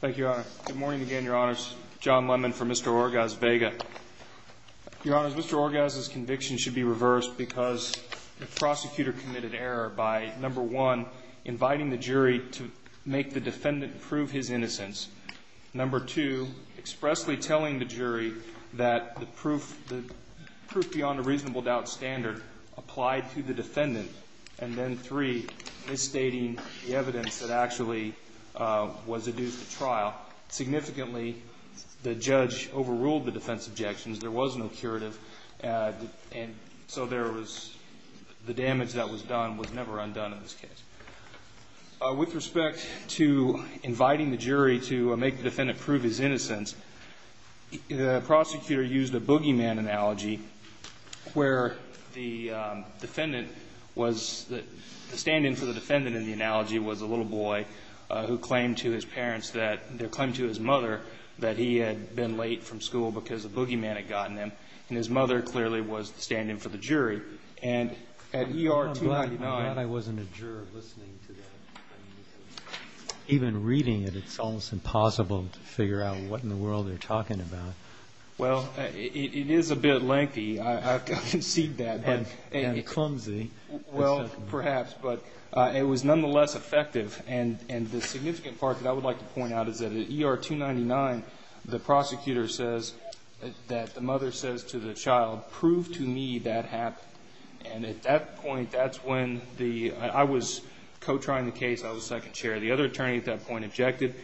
Thank you, Your Honor. Good morning again, Your Honors. John Lemon for Mr. Orgaz-Vega. Your Honors, Mr. Orgaz's conviction should be reversed because the prosecutor committed error by, number one, inviting the jury to make the defendant prove his innocence. Number two, expressly telling the jury that the proof beyond a reasonable doubt standard applied to the defendant. And then three, misstating the evidence that actually was adduced at trial. Significantly, the judge overruled the defense objections. There was no curative, and so there was the damage that was done was never undone in this case. With respect to inviting the jury to make the defendant prove his innocence, the prosecutor used a boogeyman analogy where the defendant was, the stand-in for the defendant in the analogy was a little boy who claimed to his parents that, claimed to his mother that he had been late from school because a boogeyman had gotten him. And his mother clearly was the stand-in for the jury. And at E.R. 299. I'm glad I wasn't a juror listening to that. Even reading it, it's almost impossible to figure out what in the world they're talking about. Well, it is a bit lengthy. I concede that. And clumsy. Well, perhaps. But it was nonetheless effective. And the significant part that I would like to point out is that at E.R. 299, the prosecutor says that the mother says to the child, prove to me that happened. And at that point, that's when the, I was co-trying the case. I was second chair. The other attorney at that point objected.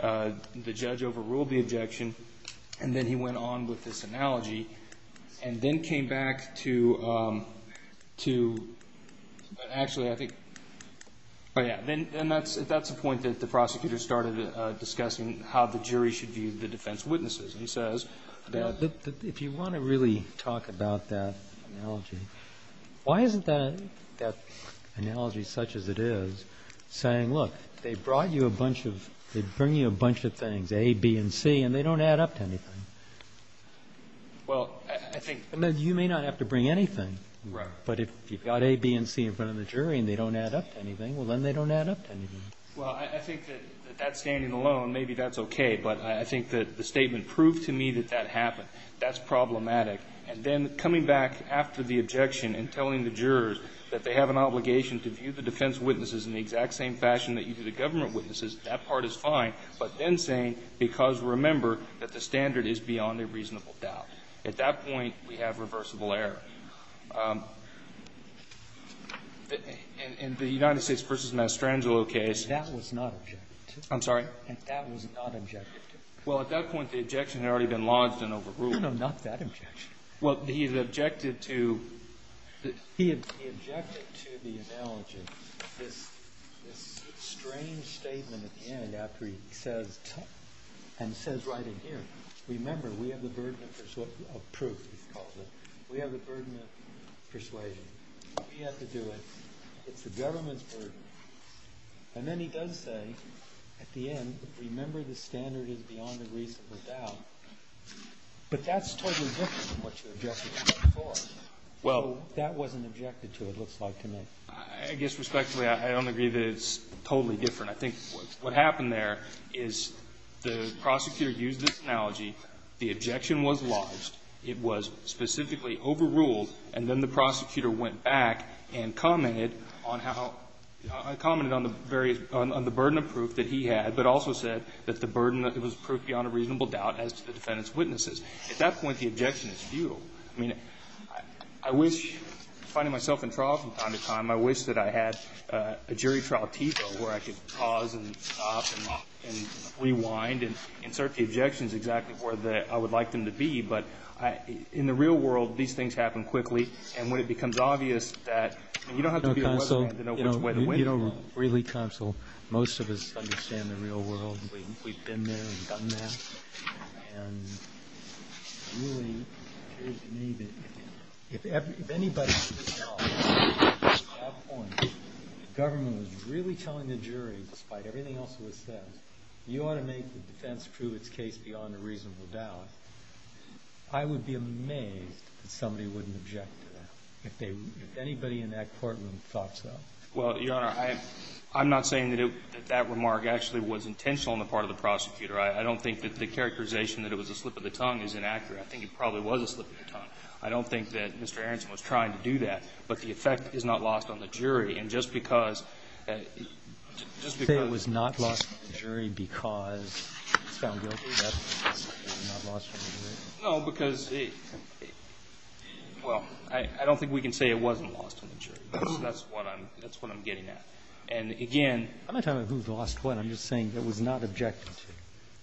The judge overruled the objection. And then he went on with this analogy. And then came back to, actually, I think, oh, yeah. And that's the point that the prosecutor started discussing how the jury should view the defense witnesses. And he says that. If you want to really talk about that analogy, why isn't that analogy such as it is saying, look, they brought you a bunch of, they bring you a bunch of things, A, B, and C, and they don't add up to anything. Well, I think. I mean, you may not have to bring anything. Right. But if you've got A, B, and C in front of the jury and they don't add up to anything, well, then they don't add up to anything. Well, I think that that standing alone, maybe that's okay. But I think that the statement, prove to me that that happened, that's problematic. And then coming back after the objection and telling the jurors that they have an obligation to view the defense witnesses in the exact same fashion that you do the government witnesses, that part is fine. But then saying, because, remember, that the standard is beyond a reasonable doubt. At that point, we have reversible error. In the United States v. Mastrangelo case. That was not objected to. I'm sorry? That was not objected to. Well, at that point, the objection had already been lodged and overruled. No, not that objection. He objected to the analogy, this strange statement at the end after he says, and says right in here, remember, we have the burden of proof, he calls it. We have the burden of persuasion. We have to do it. It's the government's burden. And then he does say at the end, remember, the standard is beyond a reasonable doubt. But that's totally different from what you objected to before. Well. That wasn't objected to, it looks like to me. I guess respectfully, I don't agree that it's totally different. I think what happened there is the prosecutor used this analogy. The objection was lodged. It was specifically overruled. And then the prosecutor went back and commented on how, commented on the various, on the burden of proof that he had, but also said that the burden was proof beyond a reasonable doubt as to the defendant's witnesses. At that point, the objection is due. I mean, I wish, finding myself in trial from time to time, I wish that I had a jury trial Tito where I could pause and stop and rewind and insert the objections exactly where I would like them to be. But in the real world, these things happen quickly. And when it becomes obvious that, I mean, you don't have to be a weatherman to know which way to win. You don't really counsel. Most of us understand the real world. We've been there and done that. Well, Your Honor, I'm not saying that that remark actually was intentional on the part of the prosecutor. I don't think that the characterization that it was a slip of the tongue is inaccurate. I think it probably was a slip of the tongue. I don't think that Mr. Aronson was trying to do that. But the effect is not lost on the jury. And just because, just because. Say it was not lost on the jury because it's found guilty, that's not lost on the jury? No, because it, well, I don't think we can say it wasn't lost on the jury. That's what I'm, that's what I'm getting at. And again. I'm not talking about who lost what. I'm just saying it was not objected to.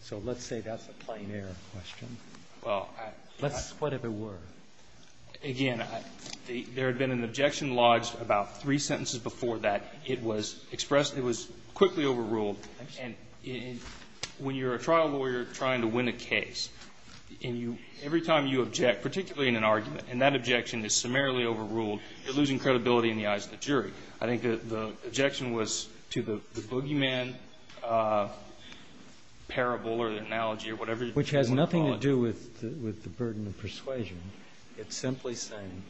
So let's say that's a plain error question. Well, I. Let's, what if it were? Again, there had been an objection lodged about three sentences before that. It was expressed, it was quickly overruled. And when you're a trial lawyer trying to win a case, and you, every time you object, particularly in an argument, and that objection is summarily overruled, you're losing credibility in the eyes of the jury. I think the objection was to the boogeyman parable or the analogy or whatever you want to call it. Which has nothing to do with the burden of persuasion. It's simply saying,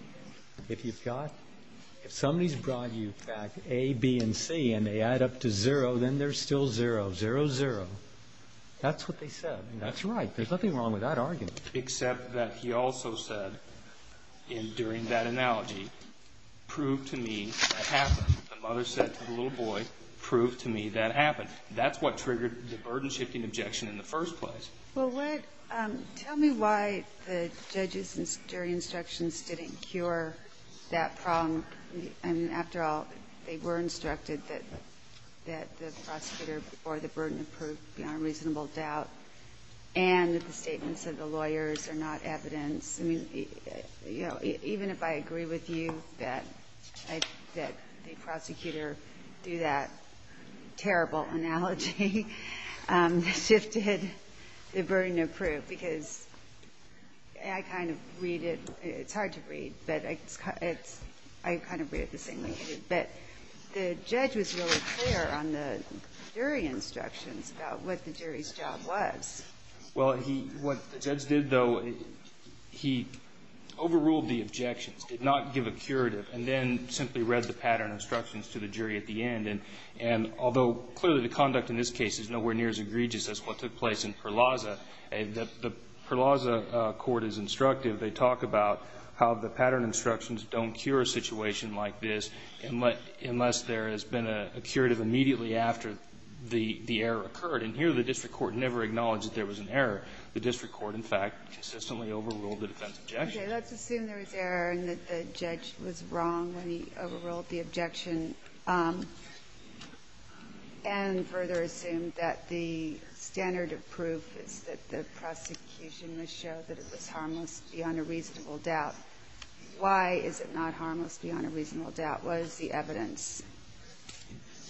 if you've got, if somebody's brought you back A, B, and C, and they add up to zero, then they're still zero. Zero, zero. That's what they said. And that's right. There's nothing wrong with that argument. Except that he also said, during that analogy, prove to me that happened. The mother said to the little boy, prove to me that happened. That's what triggered the burden-shifting objection in the first place. Well, what, tell me why the judges and jury instructions didn't cure that problem. I mean, after all, they were instructed that the prosecutor or the burden of proof is beyond reasonable doubt, and that the statements of the lawyers are not evidence. I mean, you know, even if I agree with you that I, that the prosecutor do that terrible analogy, that shifted the burden of proof, because I kind of read it, it's hard to read, but it's, it's, I kind of read it the same way. But the judge was really clear on the jury instructions about what the jury's job was. Well, he, what the judge did, though, he overruled the objections, did not give a curative, and then simply read the pattern instructions to the jury at the end. And although clearly the conduct in this case is nowhere near as egregious as what took place in Perlazza, the Perlazza court is instructive. They talk about how the pattern instructions don't cure a situation like this. Unless there has been a curative immediately after the error occurred. And here the district court never acknowledged that there was an error. The district court, in fact, consistently overruled the defense objection. Okay. Let's assume there was error and that the judge was wrong when he overruled the objection and further assumed that the standard of proof is that the prosecution must show that it was harmless beyond a reasonable doubt. Why is it not harmless beyond a reasonable doubt? What is the evidence?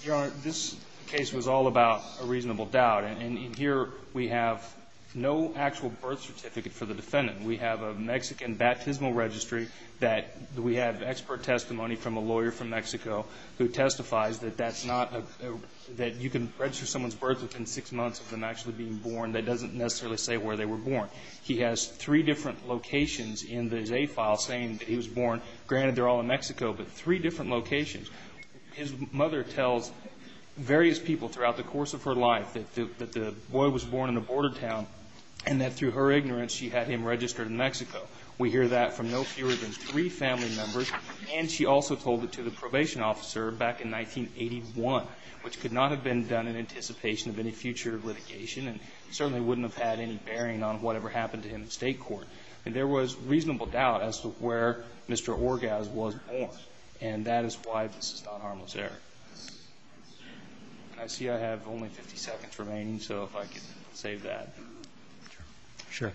Your Honor, this case was all about a reasonable doubt. And here we have no actual birth certificate for the defendant. We have a Mexican baptismal registry that we have expert testimony from a lawyer from Mexico who testifies that that's not a, that you can register someone's birth within six months of them actually being born. That doesn't necessarily say where they were born. He has three different locations in the Zay file saying that he was born. Granted, they're all in Mexico, but three different locations. His mother tells various people throughout the course of her life that the boy was born in a border town and that through her ignorance she had him registered in Mexico. We hear that from no fewer than three family members. And she also told it to the probation officer back in 1981, which could not have been done in anticipation of any future litigation and certainly wouldn't have had any bearing on whatever happened to him in state court. And there was reasonable doubt as to where Mr. Orgaz was born. And that is why this is not harmless error. And I see I have only 50 seconds remaining, so if I could save that. Sure.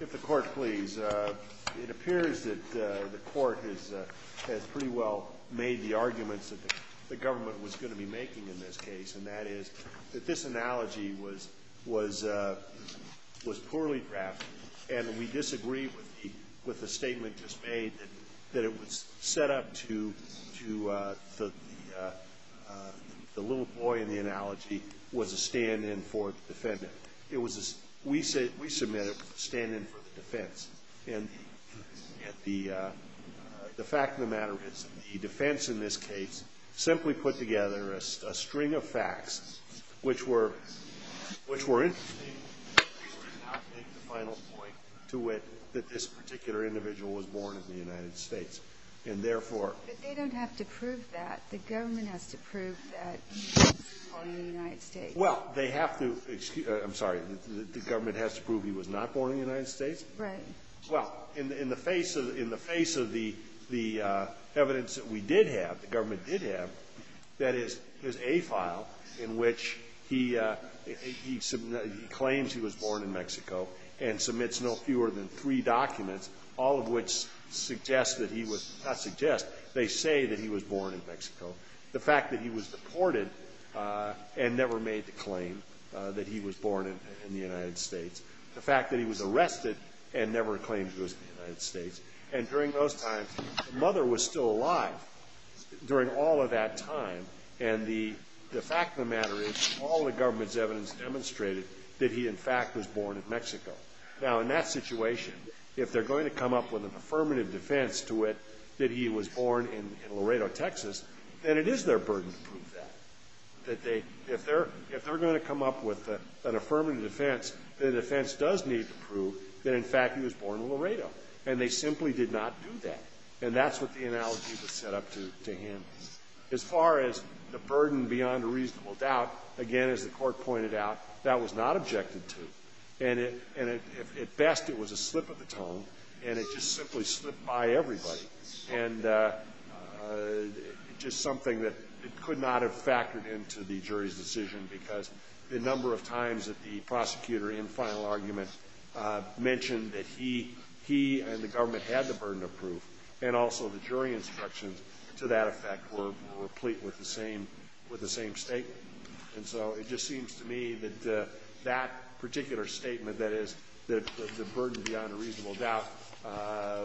If the Court please. It appears that the Court has pretty well made the arguments that the government was going to be making in this case, and that is that this analogy was poorly graphed, and we disagree with the statement just made that it was set up to the little boy in the analogy was a stand-in for the defendant. We submit it was a stand-in for the defense. And the fact of the matter is the defense in this case simply put together a string of facts which were interesting, which would not make the final point to which that this particular individual was born in the United States. And therefore. But they don't have to prove that. The government has to prove that he was born in the United States. Well, they have to. I'm sorry. The government has to prove he was not born in the United States? Right. Well, in the face of the evidence that we did have, the government did have, that is, his A file in which he claims he was born in Mexico and submits no fewer than three documents, all of which suggest that he was not suggest, they say that he was born in Mexico. The fact that he was deported and never made the claim that he was born in the United States. The fact that he was arrested and never claimed he was in the United States. And during those times, the mother was still alive during all of that time. And the fact of the matter is all the government's evidence demonstrated that he, in fact, was born in Mexico. Now, in that situation, if they're going to come up with an affirmative defense to it that he was born in Laredo, Texas, then it is their burden to prove that. If they're going to come up with an affirmative defense, the defense does need to prove that, in fact, he was born in Laredo. And they simply did not do that. And that's what the analogy was set up to handle. As far as the burden beyond a reasonable doubt, again, as the Court pointed out, that was not objected to. And it, at best, it was a slip of the tongue, and it just simply slipped by everybody. And just something that could not have factored into the jury's decision because the number of times that the prosecutor in final argument mentioned that he, he and the government had the burden of proof, and also the jury instructions to that effect were pleat with the same statement. And so it just seems to me that that particular statement, that is, that the burden beyond a reasonable doubt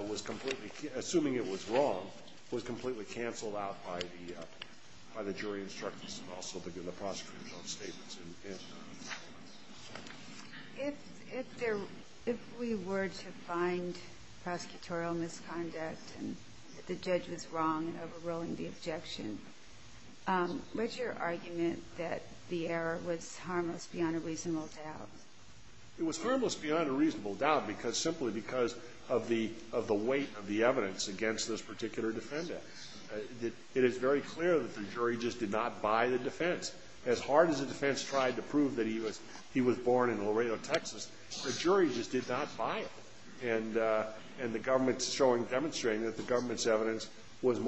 was completely, assuming it was wrong, was completely canceled out by the jury instructions and also the prosecutor's own statements. If there – if we were to find prosecutorial misconduct and the judge was wrong in overruling the objection, what's your argument that the error was harmless beyond a reasonable doubt? It was harmless beyond a reasonable doubt because – simply because of the weight of the evidence against this particular defendant. It is very clear that the jury just did not buy the defense. As hard as the defense tried to prove that he was born in Laredo, Texas, the jury just did not buy it. And the government's showing, demonstrating that the government's evidence was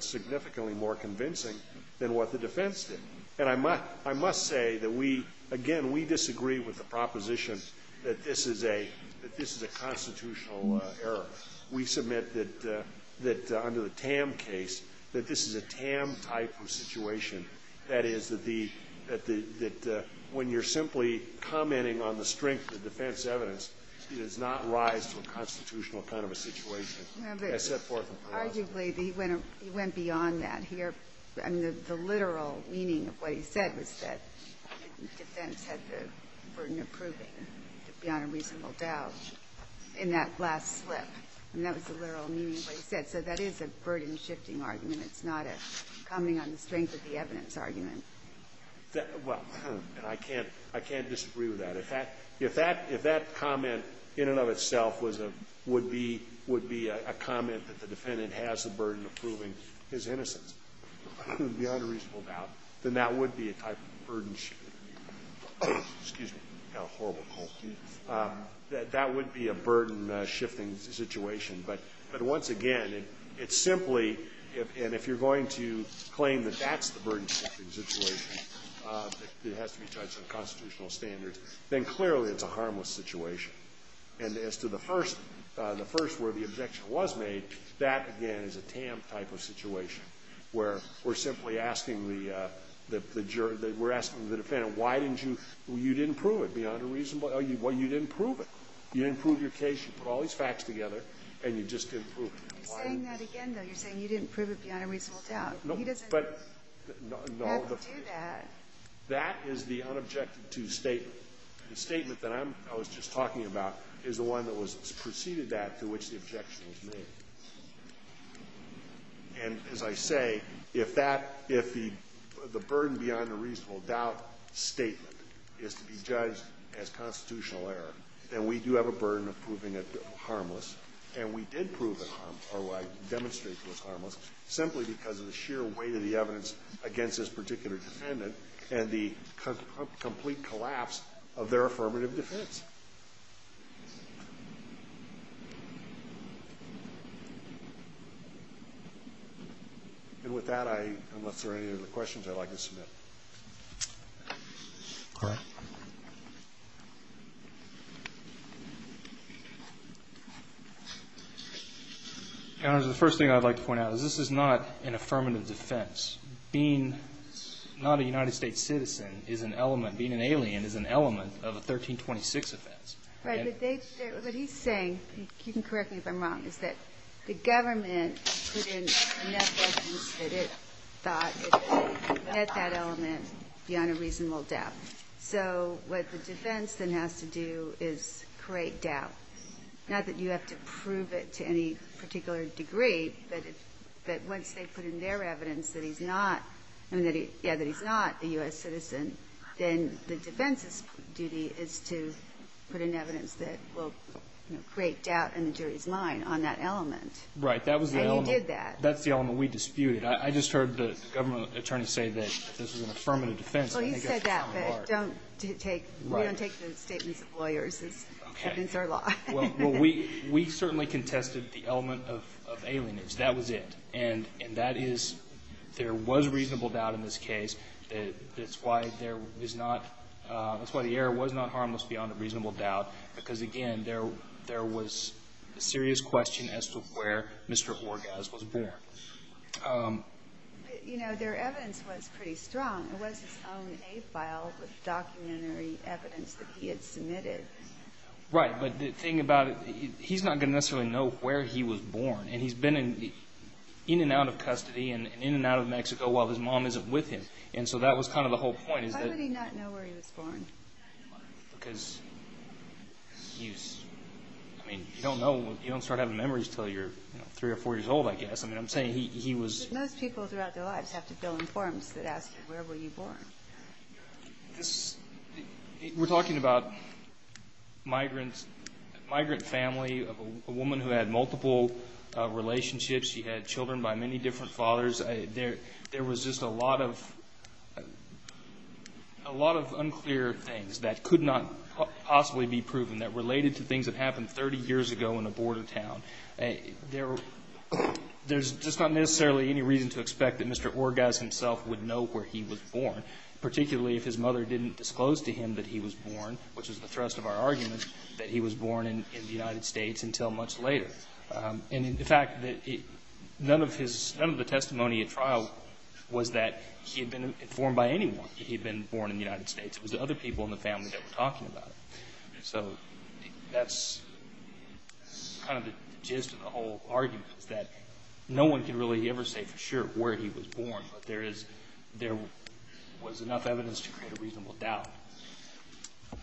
significantly more convincing than what the defense did. And I must say that we – again, we disagree with the proposition that this is a constitutional error. We submit that under the Tam case, that this is a Tam-type of situation, that is, that the – that when you're simply commenting on the strength of the defense evidence, it does not rise to a constitutional kind of a situation. That's set forth in the law. Well, but arguably, he went beyond that here. I mean, the literal meaning of what he said was that the defense had the burden of proving beyond a reasonable doubt in that last slip. I mean, that was the literal meaning of what he said. So that is a burden-shifting argument. It's not a commenting on the strength of the evidence argument. Well, and I can't – I can't disagree with that. If that – if that – if that comment in and of itself was a – would be – would be a comment that the defendant has the burden of proving his innocence beyond a reasonable doubt, then that would be a type of burden-shifting. Excuse me. I have a horrible cough. That would be a burden-shifting situation. But once again, it's simply – and if you're going to claim that that's the burden-shifting situation, it has to be judged on constitutional standards, then clearly it's a harmless situation. And as to the first – the first where the objection was made, that, again, is a TAM type of situation, where we're simply asking the jury – we're asking the defendant, why didn't you – you didn't prove it beyond a reasonable – well, you didn't prove it. You didn't prove your case. You put all these facts together, and you just didn't prove it. Why? You're saying that again, though. You're saying you didn't prove it beyond a reasonable doubt. No. He doesn't have to do that. That is the unobjective-to statement. The statement that I'm – I was just talking about is the one that was preceded that to which the objection was made. And as I say, if that – if the burden beyond a reasonable doubt statement is to be And we did prove it harmless – or demonstrate it was harmless simply because of the sheer weight of the evidence against this particular defendant and the complete collapse of their affirmative defense. And with that, I – unless there are any other questions, I'd like to submit. All right. Your Honor, the first thing I'd like to point out is this is not an affirmative defense. Being not a United States citizen is an element – being an alien is an element of a 1326 offense. Right. But they – what he's saying – you can correct me if I'm wrong – is that the element beyond a reasonable doubt. So what the defense then has to do is create doubt. Not that you have to prove it to any particular degree, but once they put in their evidence that he's not – I mean, that he – yeah, that he's not a U.S. citizen, then the defense's duty is to put in evidence that will create doubt in the jury's mind on that element. Right. That was the element. And you did that. That's the element we disputed. I just heard the government attorney say that this is an affirmative defense. Well, he said that, but don't take – we don't take the statements of lawyers. Okay. It's our law. Well, we certainly contested the element of alienage. That was it. And that is – there was reasonable doubt in this case. That's why there is not – that's why the error was not harmless beyond a reasonable doubt because, again, there was a serious question as to where Mr. Orgaz was born. You know, their evidence was pretty strong. It was his own A file with documentary evidence that he had submitted. Right. But the thing about it, he's not going to necessarily know where he was born. And he's been in and out of custody and in and out of Mexico while his mom isn't with him. And so that was kind of the whole point is that – Why would he not know where he was born? Because he's – I mean, you don't know – you don't start having memories until you're three or four years old, I guess. I mean, I'm saying he was – But most people throughout their lives have to fill in forms that ask, where were you born? This – we're talking about migrant family of a woman who had multiple relationships. She had children by many different fathers. There was just a lot of unclear things that could not possibly be proven that related to things that happened 30 years ago in a border town. There's just not necessarily any reason to expect that Mr. Orgaz himself would know where he was born, particularly if his mother didn't disclose to him that he was born, which is the thrust of our argument, that he was born in the United States until much later. And in fact, none of his – none of the testimony at trial was that he had been informed by anyone that he had been born in the United States. It was the other people in the family that were talking about it. So that's kind of the gist of the whole argument, is that no one can really ever say for sure where he was born, but there is – there was enough evidence to create a reasonable doubt. All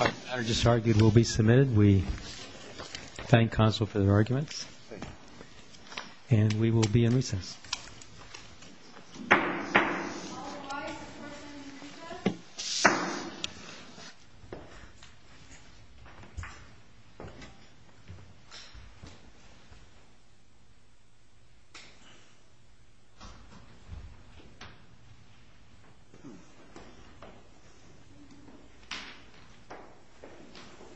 right. The matter just argued will be submitted. We thank counsel for their arguments. Thank you. And we will be in recess. Thank you. Bye. Bye. Bye. Bye. Bye.